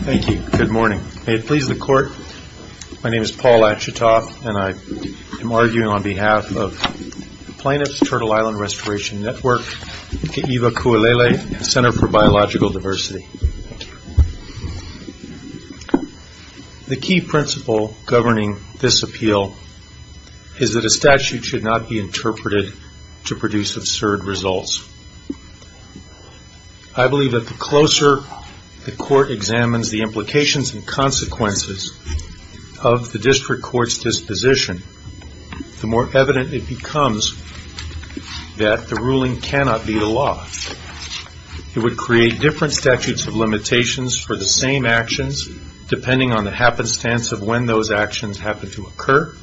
Thank you. Good morning. May it please the Court, my name is Paul Achitoff and I am arguing on behalf of the Plaintiff's Turtle Island Restoration Network, the Iwa Kualele Center for Biological Diversity. The key principle governing this appeal is that a statute should not be interpreted to produce absurd results. I believe that the closer the Court examines the implications and consequences of the District Court's disposition, the more evident it becomes that the ruling cannot be the law. It would create different statutes of limitations for the same actions depending on the happenstance of when those actions happen to occur.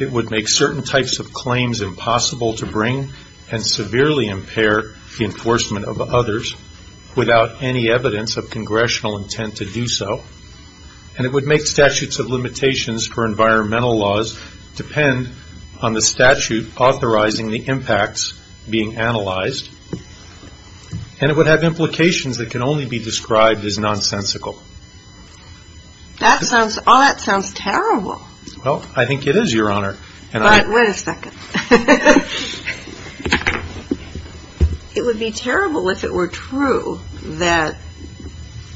It would make certain types of claims impossible to bring and severely impair the enforcement of others without any evidence of Congressional intent to do so. And it would make statutes of limitations for environmental laws depend on the statute authorizing the impacts being analyzed. And it would have implications that can only be described as nonsensical. All that sounds terrible. Well, I think it is, Your Honor. Wait a second. It would be terrible if it were true that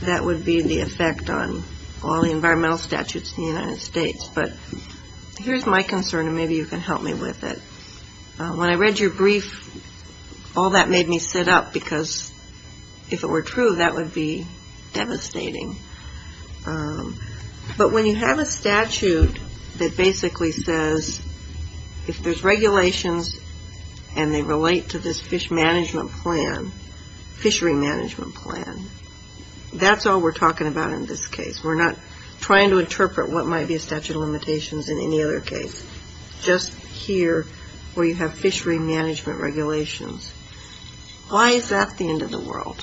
that would be the effect on all the environmental statutes in the United States, but here's my concern and maybe you can help me with it. When I read your brief, all that made me sit up because if it were true, that would be devastating. But when you have a statute that basically says if there's regulations and they relate to this fish management plan, fishery management plan, that's all we're talking about in this case. We're not trying to interpret what might be a statute of limitations in any other case. Just here where you have fishery management regulations. Why is that the end of the world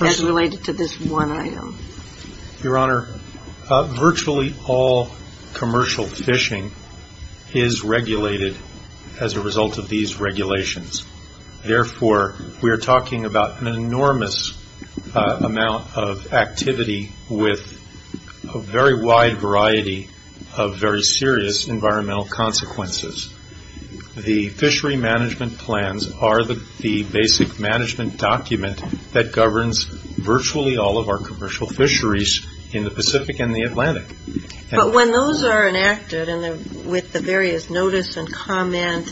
as related to this one item? Your Honor, virtually all commercial fishing is regulated as a result of these regulations. Therefore, we are talking about an enormous amount of activity with a very wide variety of very serious environmental consequences. The fishery management plans are the basic management document that governs virtually all of our commercial fisheries in the Pacific and the Atlantic. But when those are enacted and with the various notice and comment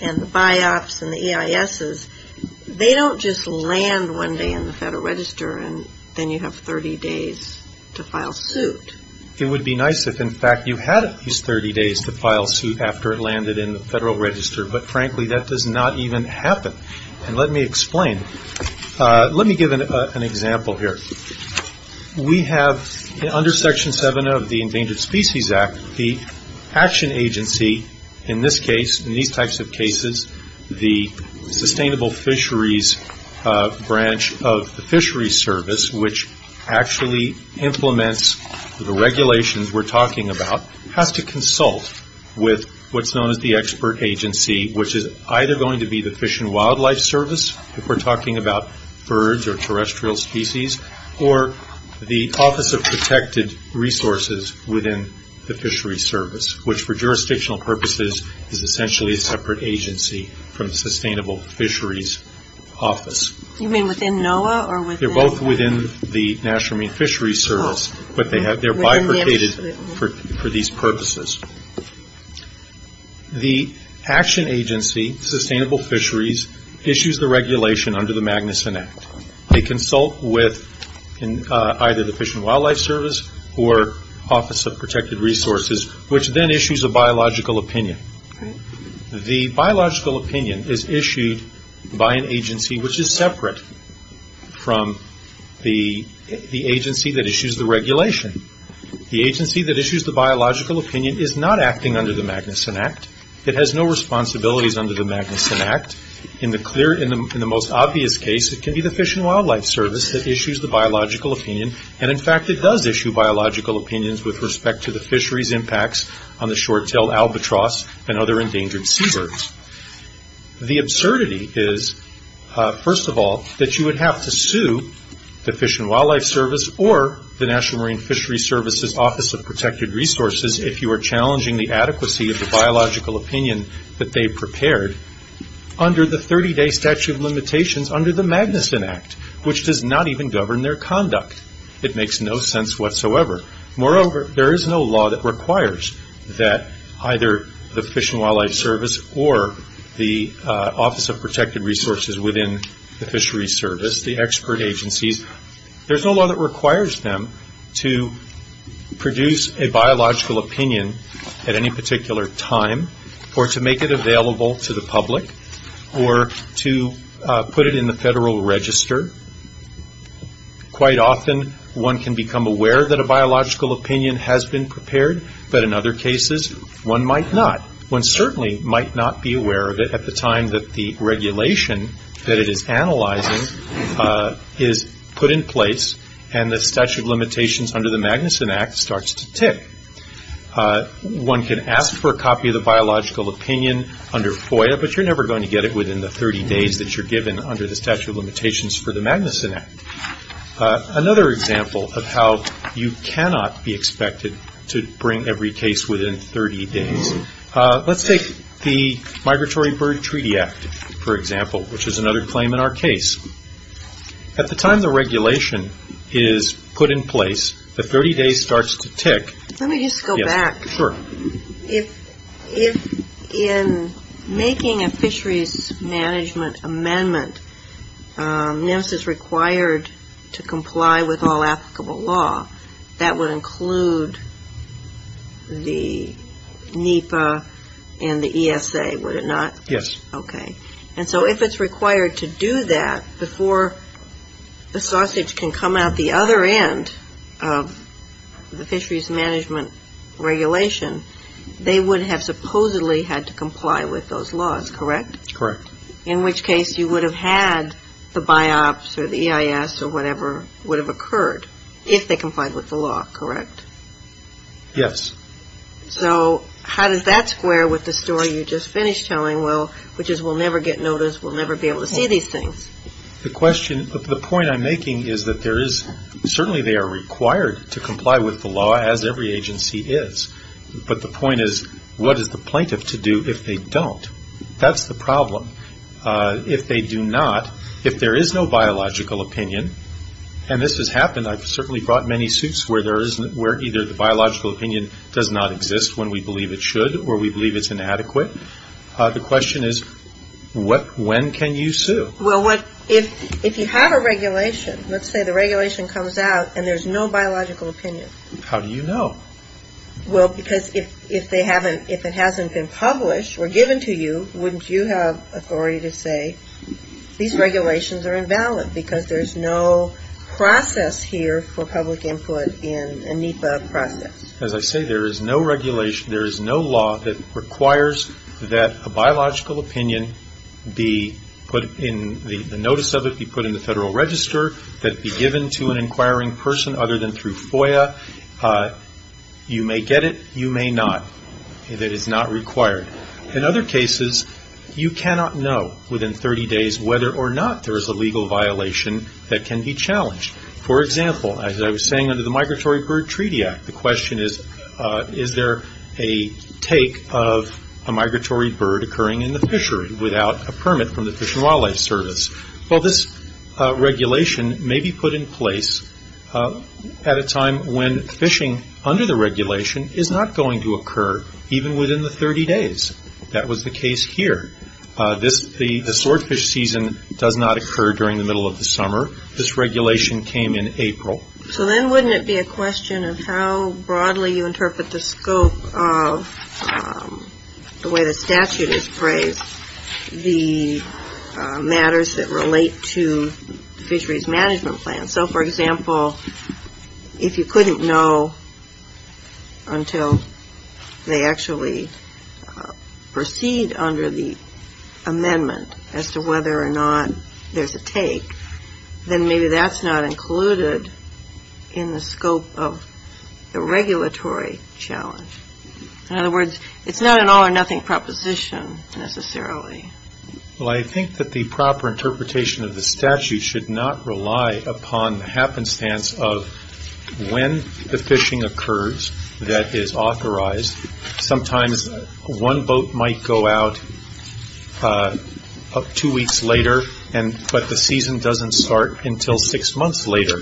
and the biops and the EISs, they don't just land one day in the Federal Register and then you have 30 days to file suit. It would be nice if, in fact, you had at least 30 days to file suit after it landed in the Federal Register. But frankly, that does not even happen. And let me explain. Let me give an example here. We have, under Section 7 of the Endangered Species Act, the action agency, in this case, in these types of cases, the sustainable fisheries branch of the fishery service, which actually implements the regulations we're talking about, has to consult with what's known as the expert agency, which is either going to be the Fish and Wildlife Service, if we're talking about birds or terrestrial species, or the Office of Protected Resources within the fishery service, which, for jurisdictional purposes, is essentially a separate agency from the Sustainable Fisheries Office. They're both within the National Marine Fisheries Service, but they're bifurcated for these purposes. The action agency, Sustainable Fisheries, issues the regulation under the Magnuson Act. They consult with either the Fish and Wildlife Service or Office of Protected Resources, which then issues a biological opinion. The biological opinion is issued by an agency which is separate from the agency that issues the regulation. The agency that issues the biological opinion is not acting under the Magnuson Act. It has no responsibilities under the Magnuson Act. In the most obvious case, it can be the Fish and Wildlife Service that issues the biological opinion. In fact, it does issue biological opinions with respect to the fisheries impacts on the short-tailed albatross and other endangered seabirds. The absurdity is, first of all, that you would have to sue the Fish and Wildlife Service or the National Marine Fisheries Service's Office of Protected Resources if you were challenging the adequacy of the biological opinion that they prepared under the 30-day statute of limitations under the Magnuson Act, which does not even govern their conduct. It makes no sense whatsoever. Moreover, there is no law that requires that either the Fish and Wildlife Service or the Office of Protected Resources within the fisheries service, the expert agencies, there's no law that requires them to produce a biological opinion at any particular time or to make it available to the public or to put it in the federal register. Quite often, one can become aware that a biological opinion has been prepared, but in other cases, one might not. One certainly might not be aware of it at the time that the regulation that it is analyzing is put in place and the statute of limitations under the Magnuson Act starts to tick. One can ask for a copy of the biological opinion under FOIA, but you're never going to get it within the 30 days that you're given under the statute of limitations for the Magnuson Act. Another example of how you cannot be expected to bring every case within 30 days. Let's take the Migratory Bird Treaty Act, for example, which is another claim in our case. At the time the regulation is put in place, the 30 days starts to tick. Let me just go back. If in making a fisheries management amendment, NEMS is required to comply with all applicable law, that would include the NEPA and the ESA, would it not? Yes. Okay. And so if it's required to do that before the sausage can come out the other end of the fisheries management regulation, they would have supposedly had to comply with those laws, correct? Correct. In which case, you would have had the BIOPS or the EIS or whatever would have occurred if they complied with the law, correct? Yes. So how does that square with the story you just finished telling, which is we'll never get notice, we'll never be able to see these things? The question, the point I'm making is that there is, certainly they are required to comply with the law, as every agency is. But the point is, what is the plaintiff to do if they don't? That's the problem. If they do not, if there is no biological opinion, and this has happened, I've certainly brought many suits where either the biological opinion does not exist when we believe it should or we believe it's inadequate. The question is, when can you sue? Well, if you have a regulation, let's say the regulation comes out and there's no biological opinion. How do you know? Well, because if they haven't, if it hasn't been published or given to you, wouldn't you have authority to say these regulations are invalid because there's no process here for public input in a NEPA process? As I say, there is no regulation, there is no law that requires that a biological opinion be put in, the notice of it be put in the Federal Register, that it be given to an inquiring person other than through FOIA. You may get it, you may not. It is not required. In other cases, you cannot know within 30 days whether or not there is a legal violation that can be challenged. For example, as I was saying under the Migratory Bird Treaty Act, the question is, is there a take of a migratory bird occurring in the fishery without a permit from the Fish and Wildlife Service? Well, this regulation may be put in place at a time when fishing under the regulation is not going to occur even within the 30 days. That was the case here. The swordfish season does not occur during the middle of the summer. This regulation came in April. So then wouldn't it be a question of how broadly you interpret the scope of the way the statute is phrased, the matters that relate to fisheries management plans? So, for example, if you couldn't know until they actually proceed under the amendment as to whether or not there's a take, then maybe that's not included in the scope of the regulatory challenge. In other words, it's not an all-or-nothing proposition, necessarily. Well, I think that the proper interpretation of the statute should not rely upon the happenstance of when the fishing occurs that is authorized. Sometimes one boat might go out two weeks later, but the season doesn't start until six months later.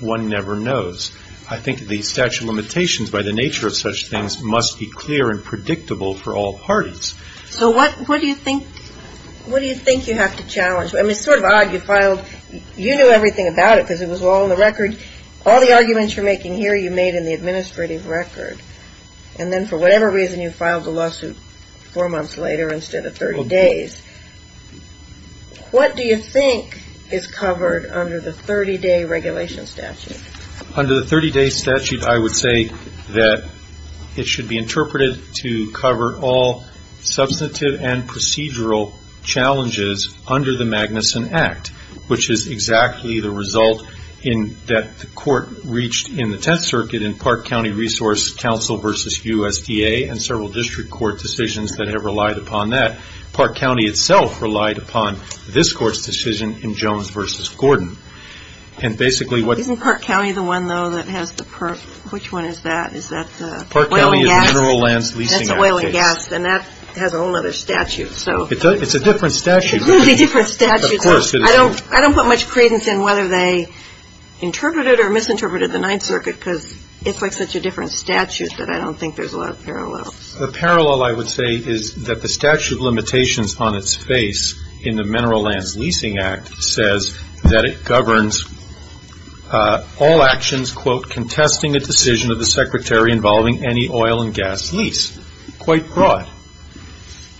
One never knows. I think the statute of limitations, by the nature of such things, must be clear and predictable for all parties. So what do you think you have to challenge? I mean, it's sort of odd. You knew everything about it because it was all in the record. All the arguments you're making here you made in the administrative record. And then for whatever reason, you filed the lawsuit four months later instead of 30 days. What do you think is covered under the 30-day regulation statute? Under the 30-day statute, I would say that it should be interpreted to cover all substantive and procedural challenges under the Magnuson Act, which is exactly the result that the Court reached in the Tenth Circuit in Park County Resource Counsel v. USDA and several district court decisions that have relied upon that. Park County itself relied upon this Court's decision in Jones v. Gordon. Isn't Park County the one, though, that has the PERP? Which one is that? Park County is the Mineral Lands Leasing Act. That's oil and gas, and that has a whole other statute. It's a different statute. It's a completely different statute. Of course it is. I don't put much credence in whether they interpreted it or misinterpreted the Ninth Circuit because it's like such a different statute that I don't think there's a lot of parallels. A parallel, I would say, is that the statute of limitations on its face in the Mineral Lands Leasing Act says that it governs all actions, quote, contesting a decision of the Secretary involving any oil and gas lease. Quite broad.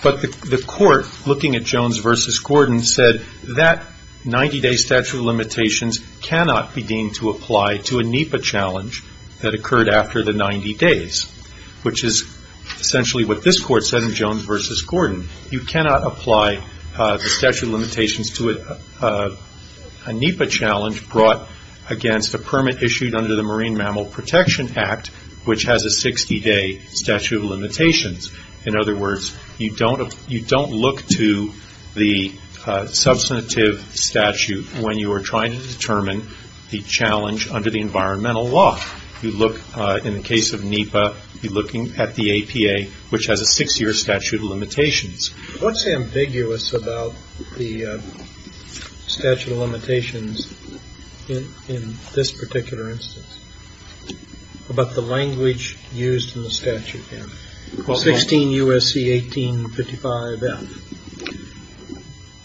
But the Court, looking at Jones v. Gordon, said that 90-day statute of limitations cannot be deemed to apply to a NEPA challenge that occurred after the 90 days, which is essentially what this Court said in Jones v. Gordon. You cannot apply the statute of limitations to a NEPA challenge brought against a permit issued under the Marine Mammal Protection Act, which has a 60-day statute of limitations. In other words, you don't look to the substantive statute when you are trying to determine the challenge under the environmental law. You look, in the case of NEPA, you're looking at the APA, which has a six-year statute of limitations. What's ambiguous about the statute of limitations in this particular instance? About the language used in the statute? 16 U.S.C. 1855F.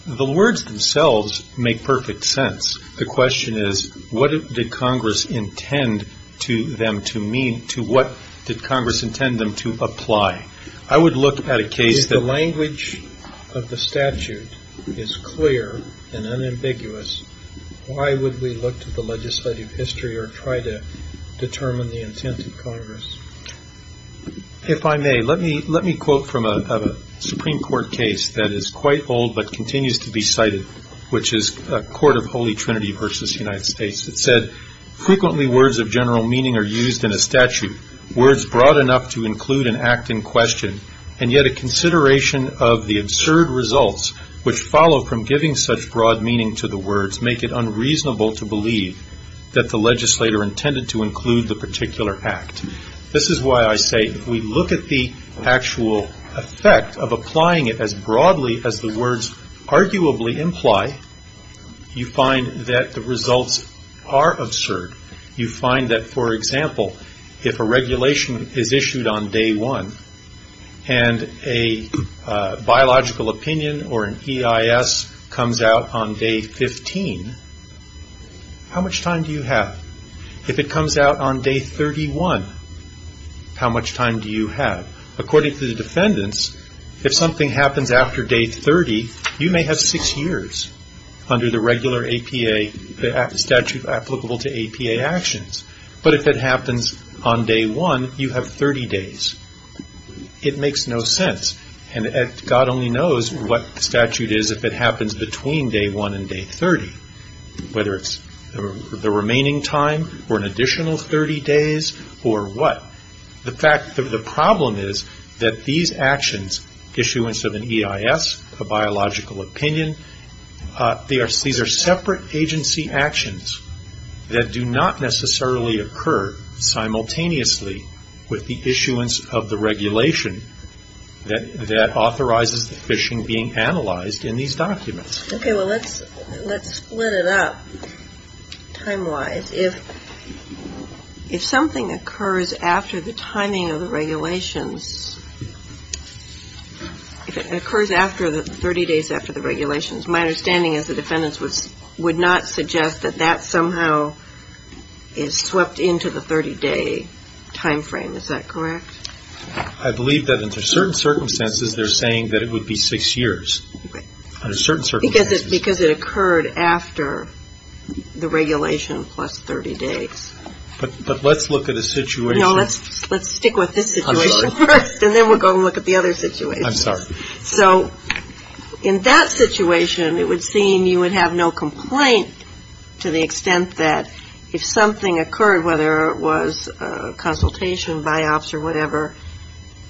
The words themselves make perfect sense. The question is, what did Congress intend to them to mean, to what did Congress intend them to apply? If the language of the statute is clear and unambiguous, why would we look to the legislative history or try to determine the intent of Congress? If I may, let me quote from a Supreme Court case that is quite old but continues to be cited, which is a court of Holy Trinity v. United States that said, Frequently words of general meaning are used in a statute, words broad enough to include an act in question, and yet a consideration of the absurd results which follow from giving such broad meaning to the words make it unreasonable to believe that the legislator intended to include the particular act. This is why I say if we look at the actual effect of applying it as broadly as the words arguably imply, you find that the results are absurd. You find that, for example, if a regulation is issued on day one and a biological opinion or an EIS comes out on day 15, how much time do you have? If it comes out on day 31, how much time do you have? According to the defendants, if something happens after day 30, you may have six years under the regular APA statute applicable to APA actions. But if it happens on day one, you have 30 days. It makes no sense, and God only knows what the statute is if it happens between day one and day 30, whether it's the remaining time or an additional 30 days or what. The problem is that these actions, issuance of an EIS, a biological opinion, these are separate agency actions that do not necessarily occur simultaneously with the issuance of the regulation that authorizes the fishing being analyzed in these documents. Okay, well, let's split it up time-wise. If something occurs after the timing of the regulations, if it occurs 30 days after the regulations, my understanding is the defendants would not suggest that that somehow is swept into the 30-day time frame. Is that correct? I believe that under certain circumstances, they're saying that it would be six years. Because it occurred after the regulation plus 30 days. But let's look at a situation. No, let's stick with this situation first, and then we'll go and look at the other situations. I'm sorry. So in that situation, it would seem you would have no complaint to the extent that if something occurred, whether it was a consultation by ops or whatever,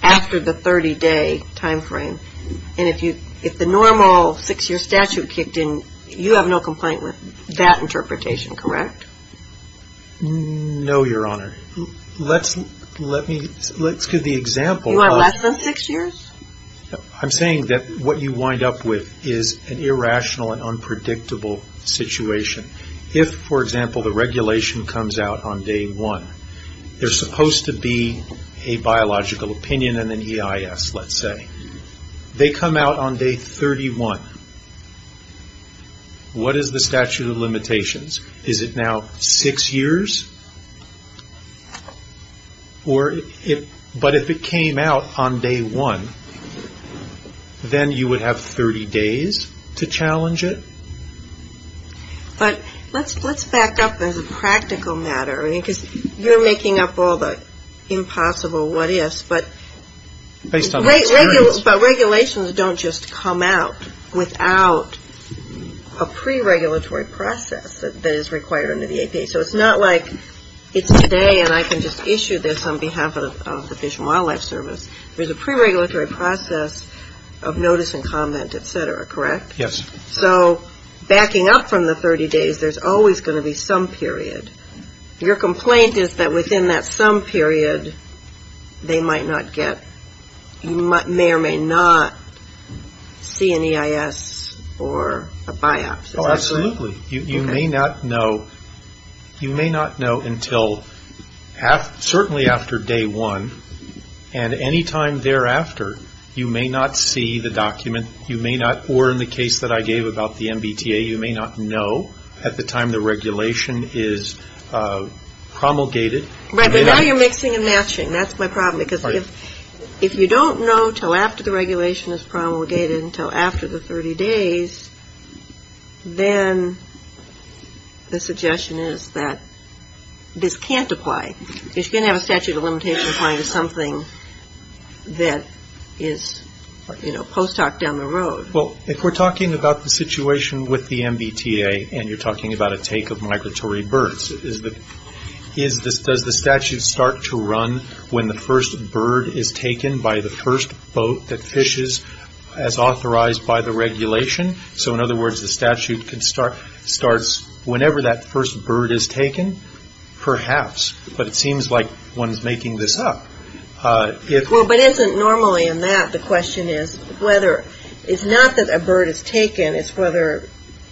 after the 30-day time frame, and if the normal six-year statute kicked in, you have no complaint with that interpretation, correct? No, Your Honor. Let's give the example. You are less than six years? I'm saying that what you wind up with is an irrational and unpredictable situation. If, for example, the regulation comes out on day one, they're supposed to be a biological opinion and an EIS, let's say. They come out on day 31. What is the statute of limitations? Is it now six years? But if it came out on day one, then you would have 30 days to challenge it? But let's back up as a practical matter, because you're making up all the impossible what-ifs. But regulations don't just come out without a pre-regulatory process that is required under the APA. So it's not like it's today and I can just issue this on behalf of the Fish and Wildlife Service. There's a pre-regulatory process of notice and comment, et cetera, correct? Yes. So backing up from the 30 days, there's always going to be some period. Your complaint is that within that some period, they might not get, you may or may not see an EIS or a biopsy. Oh, absolutely. You may not know until certainly after day one. Or in the case that I gave about the MBTA, you may not know at the time the regulation is promulgated. Right, but now you're mixing and matching. That's my problem, because if you don't know until after the regulation is promulgated, until after the 30 days, then the suggestion is that this can't apply. It's going to have a statute of limitations applying to something that is post hoc down the road. Well, if we're talking about the situation with the MBTA and you're talking about a take of migratory birds, does the statute start to run when the first bird is taken by the first boat that fishes as authorized by the regulation? So in other words, the statute starts whenever that first bird is taken? Perhaps, but it seems like one's making this up. Well, but isn't normally in that the question is whether, it's not that a bird is taken, it's whether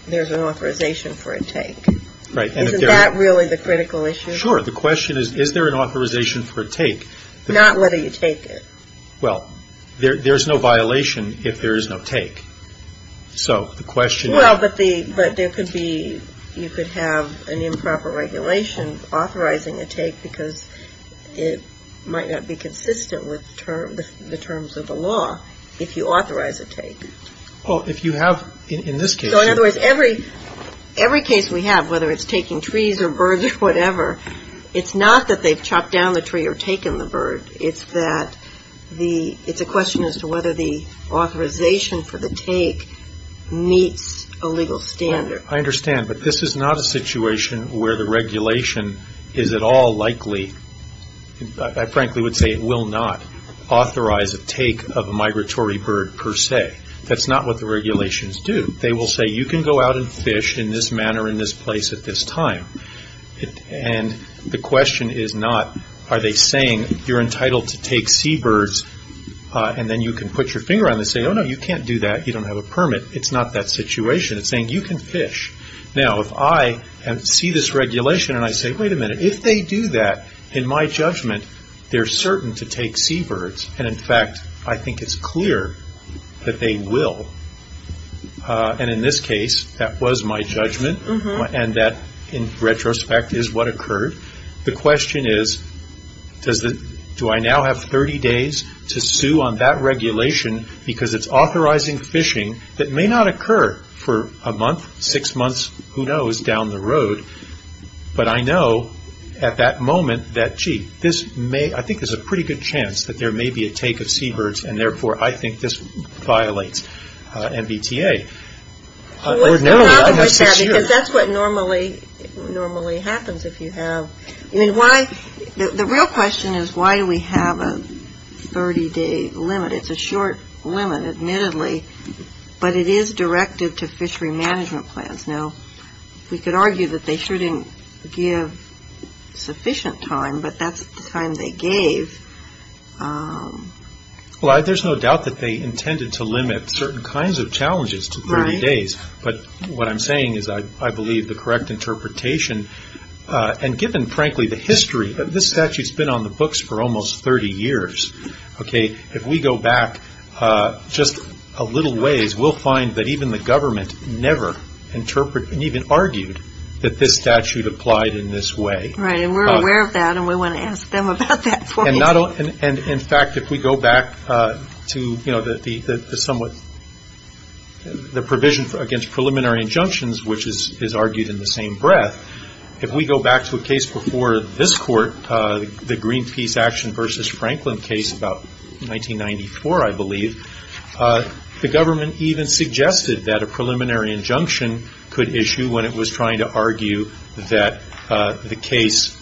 there's an authorization for a take. Right. Isn't that really the critical issue? Sure. The question is, is there an authorization for a take? Not whether you take it. Well, there's no violation if there is no take. So the question is. Well, but there could be, you could have an improper regulation authorizing a take because it might not be consistent with the terms of the law if you authorize a take. Well, if you have, in this case. So in other words, every case we have, whether it's taking trees or birds or whatever, it's not that they've chopped down the tree or taken the bird. It's that the, it's a question as to whether the authorization for the take meets a legal standard. I understand, but this is not a situation where the regulation is at all likely, I frankly would say it will not authorize a take of a migratory bird per se. That's not what the regulations do. They will say you can go out and fish in this manner, in this place, at this time. And the question is not, are they saying you're entitled to take seabirds and then you can put your finger on it and say, oh, no, you can't do that. You don't have a permit. It's not that situation. It's saying you can fish. Now, if I see this regulation and I say, wait a minute, if they do that, in my judgment, they're certain to take seabirds. And, in fact, I think it's clear that they will. And, in this case, that was my judgment and that, in retrospect, is what occurred. The question is, do I now have 30 days to sue on that regulation because it's authorizing fishing that may not occur for a month, six months, who knows, down the road. But I know at that moment that, gee, this may, I think there's a pretty good chance that there may be a take of seabirds and, therefore, I think this violates MBTA. Or no, I have six years. Because that's what normally happens if you have, I mean, why, the real question is why do we have a 30-day limit? It's a short limit, admittedly, but it is directed to fishery management plans. Now, we could argue that they shouldn't give sufficient time, but that's the time they gave. Well, there's no doubt that they intended to limit certain kinds of challenges to 30 days. But what I'm saying is I believe the correct interpretation, and given, frankly, the history, this statute's been on the books for almost 30 years. Okay. If we go back just a little ways, we'll find that even the government never interpreted and even argued that this statute applied in this way. Right. And we're aware of that, and we want to ask them about that for me. And, in fact, if we go back to, you know, the somewhat, the provision against preliminary injunctions, which is argued in the same breath, if we go back to a case before this Court, the Greenpeace Action v. Franklin case about 1994, I believe, the government even suggested that a preliminary injunction could issue when it was trying to argue that the case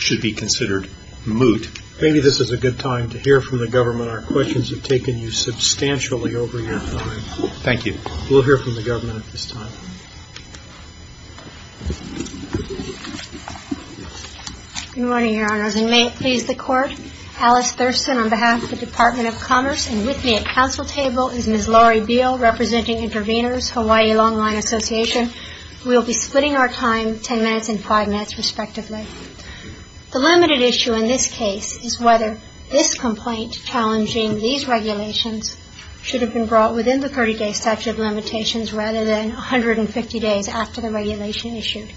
should be considered moot. Maybe this is a good time to hear from the government. Our questions have taken you substantially over your time. Thank you. We'll hear from the government at this time. Good morning, Your Honors, and may it please the Court, Alice Thurston on behalf of the Department of Commerce, and with me at council table is Ms. Laurie Beal, representing Intervenors, Hawaii Long Line Association. We'll be splitting our time 10 minutes and 5 minutes, respectively. The limited issue in this case is whether this complaint challenging these regulations should have been brought within the 30-day statute of limitations rather than 150 days after the regulation issued.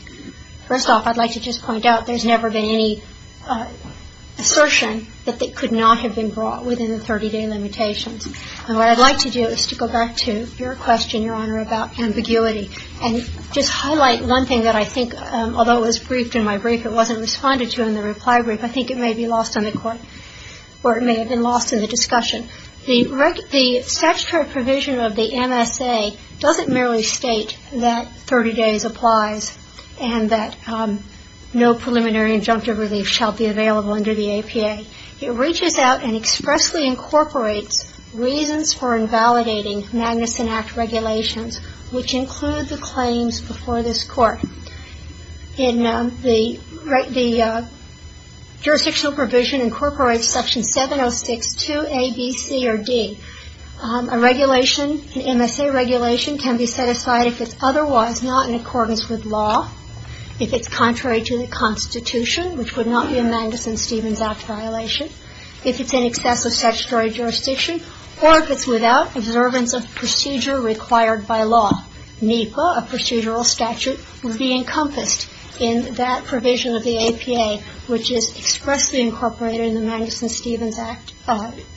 First off, I'd like to just point out there's never been any assertion that it could not have been brought within the 30-day limitations. And what I'd like to do is to go back to your question, Your Honor, about ambiguity and just highlight one thing that I think, although it was briefed in my brief, it wasn't responded to in the reply brief. I think it may be lost on the Court, or it may have been lost in the discussion. The statutory provision of the MSA doesn't merely state that 30 days applies and that no preliminary injunctive relief shall be available under the APA. It reaches out and expressly incorporates reasons for invalidating Magnuson Act regulations, which include the claims before this Court. The jurisdictional provision incorporates Section 706-2A, B, C, or D. A regulation, an MSA regulation, can be set aside if it's otherwise not in accordance with law, if it's contrary to the Constitution, which would not be a Magnuson-Stevens Act violation, if it's in excess of statutory jurisdiction, or if it's without observance of procedure required by law. NEPA, a procedural statute, would be encompassed in that provision of the APA, which is expressly incorporated in the Magnuson-Stevens Act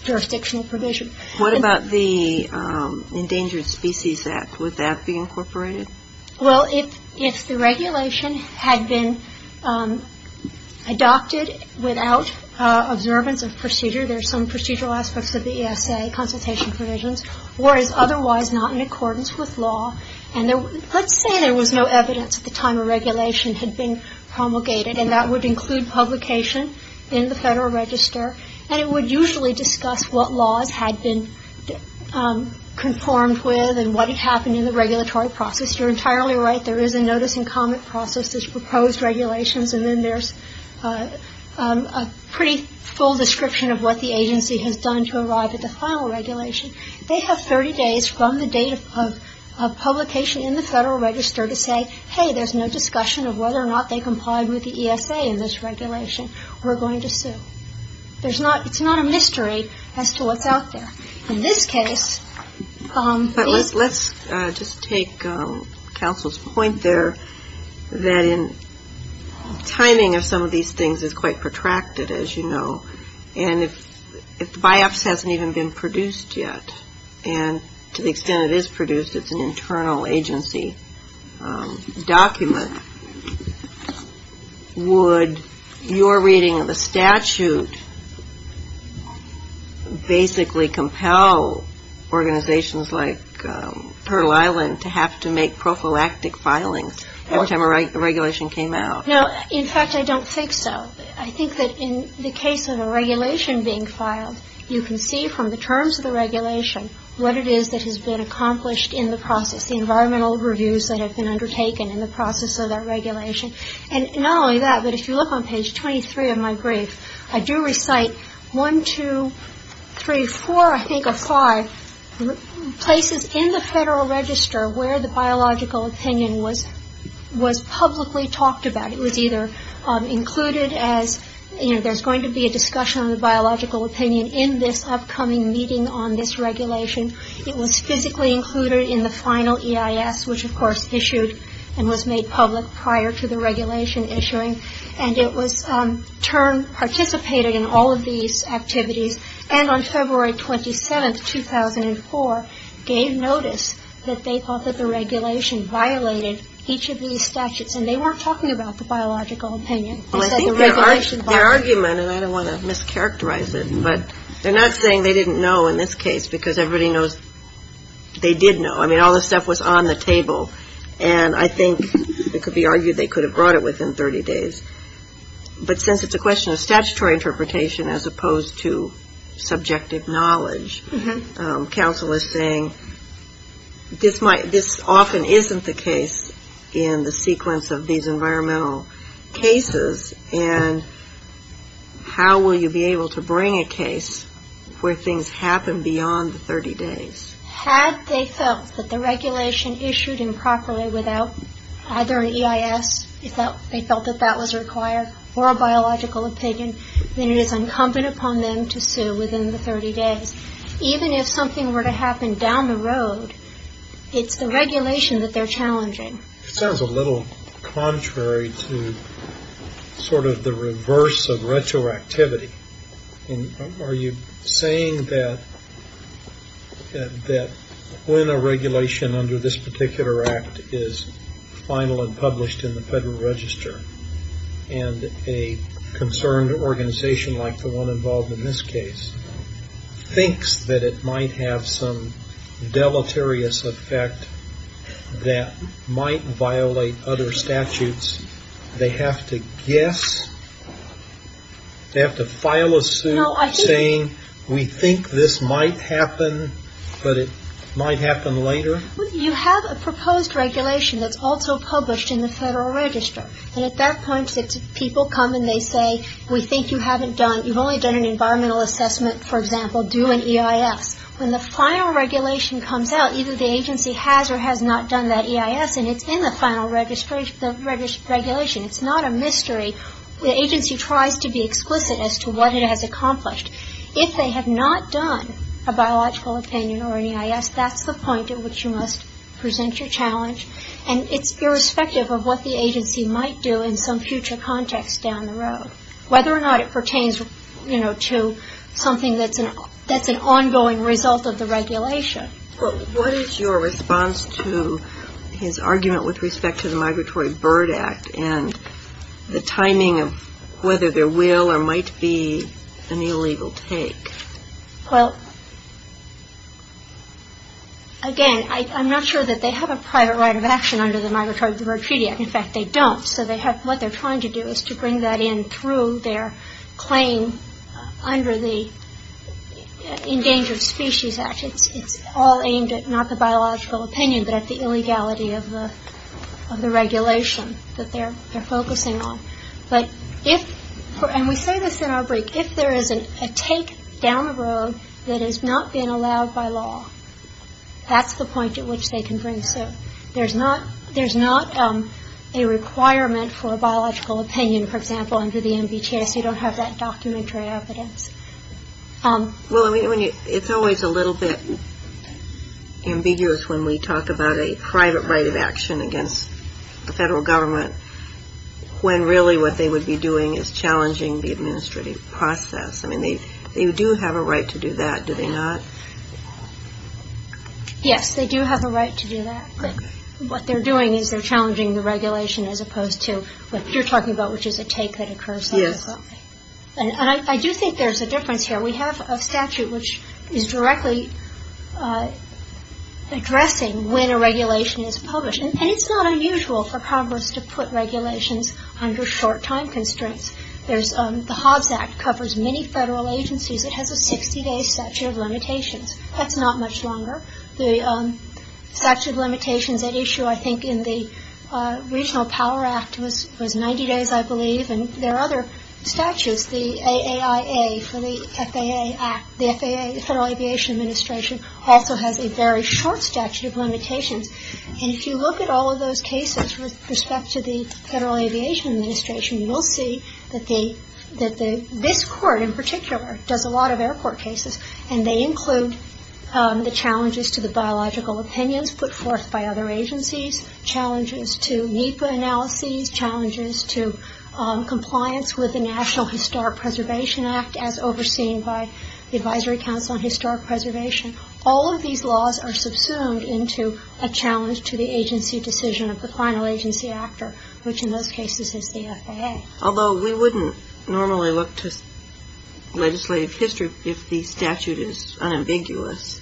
jurisdictional provision. What about the Endangered Species Act? Would that be incorporated? Well, if the regulation had been adopted without observance of procedure, there's some procedural aspects of the ESA consultation provisions, whereas otherwise not in accordance with law. And let's say there was no evidence at the time a regulation had been promulgated, and that would include publication in the Federal Register, and it would usually discuss what laws had been conformed with and what had happened in the regulatory process. You're entirely right. There is a notice and comment process, there's proposed regulations, and then there's a pretty full description of what the agency has done to arrive at the final regulation. They have 30 days from the date of publication in the Federal Register to say, hey, there's no discussion of whether or not they complied with the ESA in this regulation, or we're going to sue. It's not a mystery as to what's out there. In this case, these — But let's just take counsel's point there, that in timing of some of these things is quite protracted, as you know. And if the biopsy hasn't even been produced yet, and to the extent it is produced, it's an internal agency document, would your reading of a statute basically compel organizations like Turtle Island to have to make prophylactic filings every time a regulation came out? No. In fact, I don't think so. I think that in the case of a regulation being filed, you can see from the terms of the regulation what it is that has been accomplished in the process, the environmental reviews that have been undertaken in the process of that regulation. And not only that, but if you look on page 23 of my brief, I do recite one, two, three, four, I think, or five places in the Federal Register where the biological opinion was publicly talked about. It was either included as, you know, there's going to be a discussion on the biological opinion in this upcoming meeting on this regulation. It was physically included in the final EIS, which, of course, issued and was made public prior to the regulation issuing. And it was, in turn, participated in all of these activities. And on February 27, 2004, gave notice that they thought that the regulation violated each of these statutes. And they weren't talking about the biological opinion. They said the regulation violated. Well, I think their argument, and I don't want to mischaracterize it, but they're not saying they didn't know in this case because everybody knows they did know. I mean, all this stuff was on the table. And I think it could be argued they could have brought it within 30 days. But since it's a question of statutory interpretation as opposed to subjective knowledge, counsel is saying this often isn't the case in the sequence of these environmental cases. And how will you be able to bring a case where things happen beyond the 30 days? Had they felt that the regulation issued improperly without either an EIS, if they felt that that was required, or a biological opinion, then it is incumbent upon them to sue within the 30 days. Even if something were to happen down the road, it's the regulation that they're challenging. It sounds a little contrary to sort of the reverse of retroactivity. Are you saying that when a regulation under this particular act is final and published in the Federal Register and a concerned organization like the one involved in this case thinks that it might have some deleterious effect that might violate other statutes, they have to guess, they have to file a suit saying, we think this might happen, but it might happen later? You have a proposed regulation that's also published in the Federal Register. And at that point, people come and they say, we think you haven't done, you've only done an environmental assessment, for example, due an EIS. When the final regulation comes out, either the agency has or has not done that EIS, and it's in the final regulation. It's not a mystery. The agency tries to be explicit as to what it has accomplished. If they have not done a biological opinion or an EIS, that's the point at which you must present your challenge. And it's irrespective of what the agency might do in some future context down the road, whether or not it pertains, you know, to something that's an ongoing result of the regulation. But what is your response to his argument with respect to the Migratory Bird Act and the timing of whether there will or might be an illegal take? Well, again, I'm not sure that they have a private right of action under the Migratory Bird Treaty Act. In fact, they don't. So what they're trying to do is to bring that in through their claim under the Endangered Species Act. It's all aimed at not the biological opinion, but at the illegality of the regulation that they're focusing on. But if, and we say this in our brief, if there is a take down the road that has not been allowed by law, that's the point at which they can bring. So there's not a requirement for a biological opinion, for example, under the MBTS. You don't have that documentary evidence. Well, I mean, it's always a little bit ambiguous when we talk about a private right of action against the federal government when really what they would be doing is challenging the administrative process. I mean, they do have a right to do that, do they not? Yes, they do have a right to do that. But what they're doing is they're challenging the regulation as opposed to what you're talking about, which is a take that occurs automatically. And I do think there's a difference here. We have a statute which is directly addressing when a regulation is published. And it's not unusual for Congress to put regulations under short time constraints. The Hobbs Act covers many federal agencies. It has a 60-day statute of limitations. That's not much longer. The statute of limitations at issue, I think, in the Regional Power Act was 90 days, I believe. And there are other statutes, the AAIA for the FAA Act. The FAA, the Federal Aviation Administration, also has a very short statute of limitations. And if you look at all of those cases with respect to the Federal Aviation Administration, you will see that this court in particular does a lot of air court cases. And they include the challenges to the biological opinions put forth by other agencies, challenges to NEPA analyses, challenges to compliance with the National Historic Preservation Act as overseen by the Advisory Council on Historic Preservation. All of these laws are subsumed into a challenge to the agency decision of the final agency actor, which in those cases is the FAA. Although we wouldn't normally look to legislative history if the statute is unambiguous.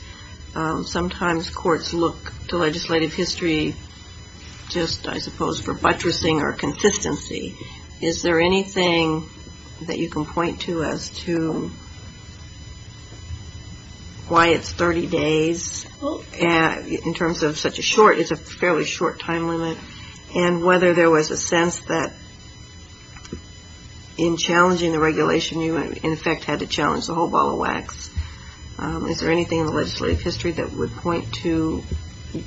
Sometimes courts look to legislative history just, I suppose, for buttressing or consistency. Is there anything that you can point to as to why it's 30 days? In terms of such a short, it's a fairly short time limit. And whether there was a sense that in challenging the regulation, you in effect had to challenge the whole ball of wax. Is there anything in the legislative history that would point to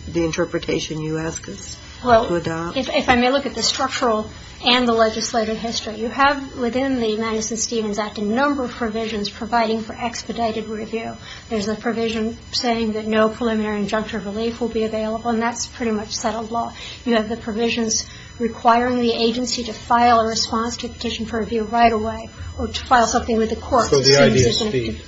the interpretation you ask us to adopt? Well, if I may look at the structural and the legislative history, you have within the Madison-Stevens Act a number of provisions providing for expedited review. There's a provision saying that no preliminary injunctive relief will be available, and that's pretty much settled law. You have the provisions requiring the agency to file a response to a petition for review right away or to file something with the courts. So the idea is speed.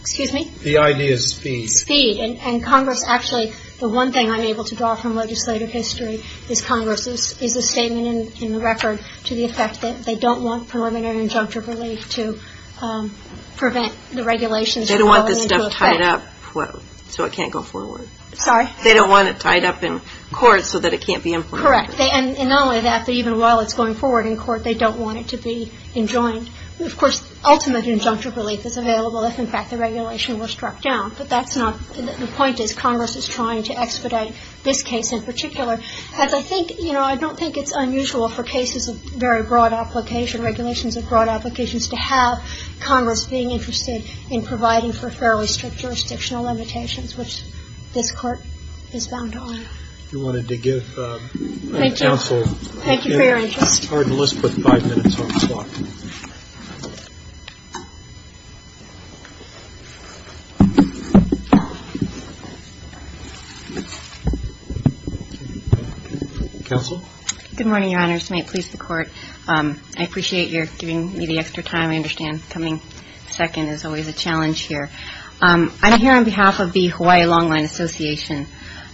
Excuse me? The idea is speed. Speed. And Congress actually, the one thing I'm able to draw from legislative history is Congress's is a statement in the record to the effect that they don't want preliminary injunctive relief to prevent the regulations. They don't want this stuff tied up so it can't go forward. Sorry? They don't want it tied up in court so that it can't be implemented. Correct. And not only that, but even while it's going forward in court, they don't want it to be enjoined. Of course, ultimate injunctive relief is available if, in fact, the regulation were struck down. But that's not the point. The point is Congress is trying to expedite this case in particular. As I think, you know, I don't think it's unusual for cases of very broad application, regulations of broad applications, to have Congress being interested in providing for fairly strict jurisdictional limitations, which this Court is bound on. If you wanted to give counsel. Thank you. Thank you for your interest. It's hard to list but five minutes on the clock. Counsel? Good morning, Your Honors. May it please the Court. I appreciate your giving me the extra time. I understand coming second is always a challenge here. I'm here on behalf of the Hawaii Long Line Association.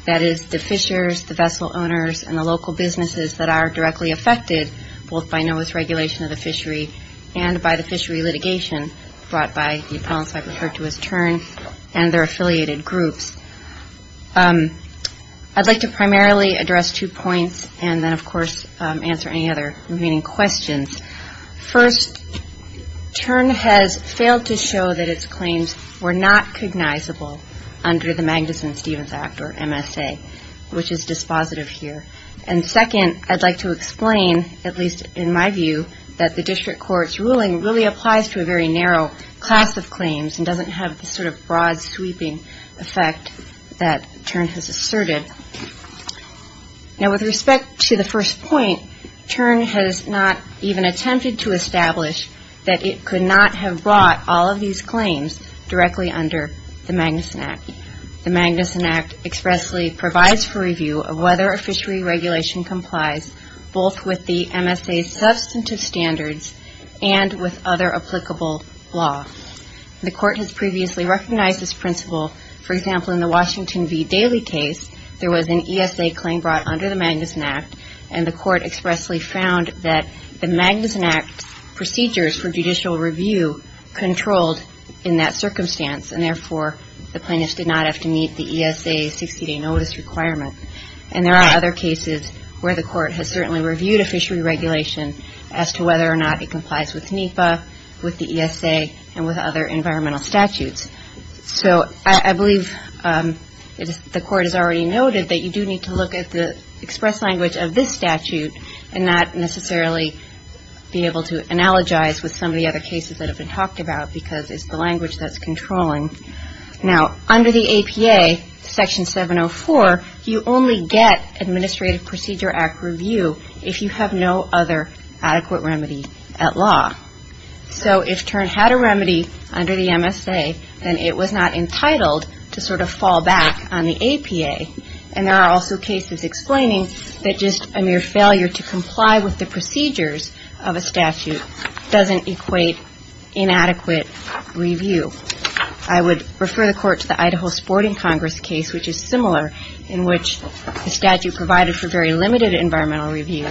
That is the fishers, the vessel owners, and the local businesses that are directly affected, both by NOAA's regulation of the fishery and by the fishery litigation brought by the appellants I referred to as TURN and their affiliated groups. I'd like to primarily address two points and then, of course, answer any other remaining questions. First, TURN has failed to show that its claims were not cognizable under the Magnuson-Stevens Act or MSA, which is dispositive here. And second, I'd like to explain, at least in my view, that the district court's ruling really applies to a very narrow class of claims and doesn't have the sort of broad sweeping effect that TURN has asserted. Now, with respect to the first point, TURN has not even attempted to establish that it could not have brought all of these claims directly under the Magnuson Act. The Magnuson Act expressly provides for review of whether a fishery regulation complies both with the MSA's substantive standards and with other applicable law. The court has previously recognized this principle. For example, in the Washington V. Daly case, there was an ESA claim brought under the Magnuson Act, and the court expressly found that the Magnuson Act procedures for judicial review controlled in that circumstance and therefore the plaintiffs did not have to meet the ESA 60-day notice requirement. And there are other cases where the court has certainly reviewed a fishery regulation as to whether or not it complies with NEPA, with the ESA, and with other environmental statutes. So I believe the court has already noted that you do need to look at the express language of this statute and not necessarily be able to analogize with some of the other cases that have been talked about because it's the language that's controlling. Now, under the APA, Section 704, you only get Administrative Procedure Act review if you have no other adequate remedy at law. So if TURN had a remedy under the MSA, then it was not entitled to sort of fall back on the APA. And there are also cases explaining that just a mere failure to comply with the procedures of a statute doesn't equate inadequate review. I would refer the court to the Idaho Sporting Congress case, which is similar, in which the statute provided for very limited environmental review.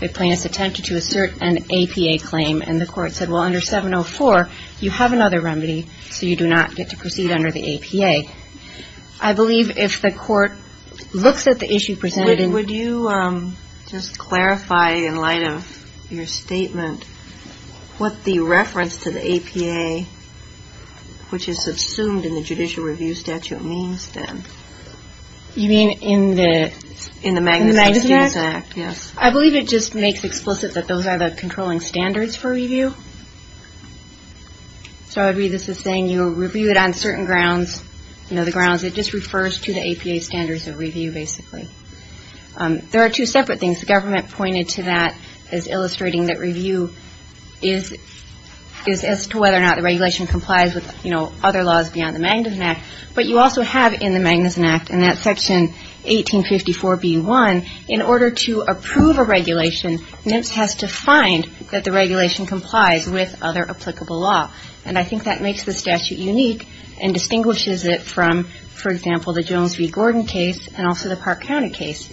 The plaintiffs attempted to assert an APA claim, and the court said, well, under 704, you have another remedy, so you do not get to proceed under the APA. I believe if the court looks at the issue presented in — in your statement, what the reference to the APA, which is subsumed in the judicial review statute, means then. You mean in the — In the Magnuson Act. Magnuson Act. Yes. I believe it just makes explicit that those are the controlling standards for review. So I would read this as saying you review it on certain grounds, you know, the grounds that just refers to the APA standards of review, basically. There are two separate things. The government pointed to that as illustrating that review is as to whether or not the regulation complies with, you know, other laws beyond the Magnuson Act. But you also have in the Magnuson Act, and that's Section 1854b1, in order to approve a regulation, NMFS has to find that the regulation complies with other applicable law. And I think that makes the statute unique and distinguishes it from, for example, the Jones v. Gordon case and also the Park County case.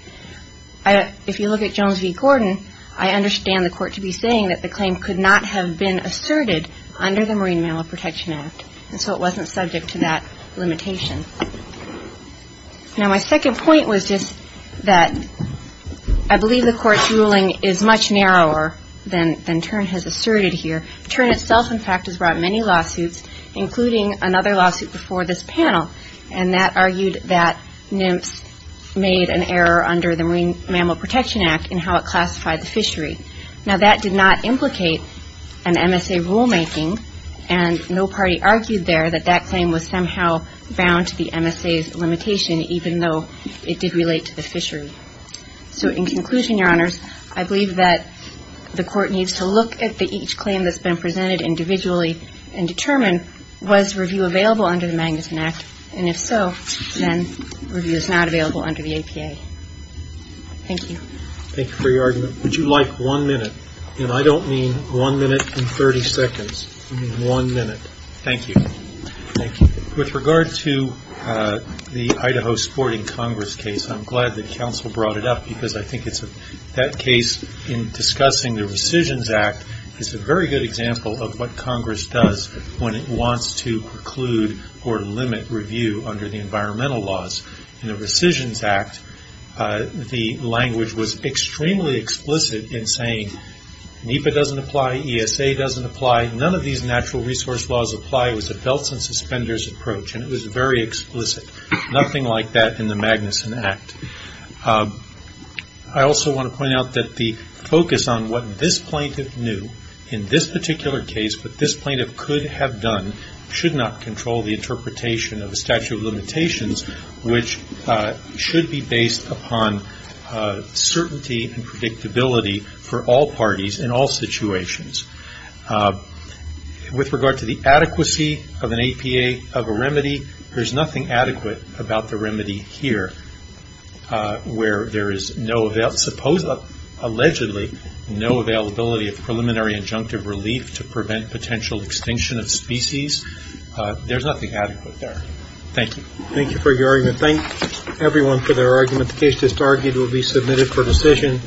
If you look at Jones v. Gordon, I understand the Court to be saying that the claim could not have been asserted under the Marine Mammal Protection Act, and so it wasn't subject to that limitation. Now, my second point was just that I believe the Court's ruling is much narrower than Tern has asserted here. Tern itself, in fact, has brought many lawsuits, including another lawsuit before this panel, and that argued that NMFS made an error under the Marine Mammal Protection Act in how it classified the fishery. Now, that did not implicate an MSA rulemaking, and no party argued there that that claim was somehow bound to the MSA's limitation, even though it did relate to the fishery. So in conclusion, Your Honors, I believe that the Court needs to look at each claim that's And if so, then review is not available under the APA. Thank you. Thank you for your argument. Would you like one minute? And I don't mean one minute and 30 seconds. I mean one minute. Thank you. Thank you. With regard to the Idaho Sporting Congress case, I'm glad that counsel brought it up because I think it's a that case in discussing the Rescissions Act is a very good example of what Congress does when it wants to preclude or limit review under the environmental laws. In the Rescissions Act, the language was extremely explicit in saying NEPA doesn't apply, ESA doesn't apply, none of these natural resource laws apply. It was a belts and suspenders approach, and it was very explicit. Nothing like that in the Magnuson Act. I also want to point out that the focus on what this plaintiff knew in this particular case, what this plaintiff could have done, should not control the interpretation of the statute of limitations, which should be based upon certainty and predictability for all parties in all situations. With regard to the adequacy of an APA, of a remedy, there's nothing adequate about the remedy here where there is no, allegedly no availability of preliminary injunctive relief to prevent potential extinction of species. There's nothing adequate there. Thank you. Thank you for your argument. Thank everyone for their argument. The case just argued will be submitted for decision.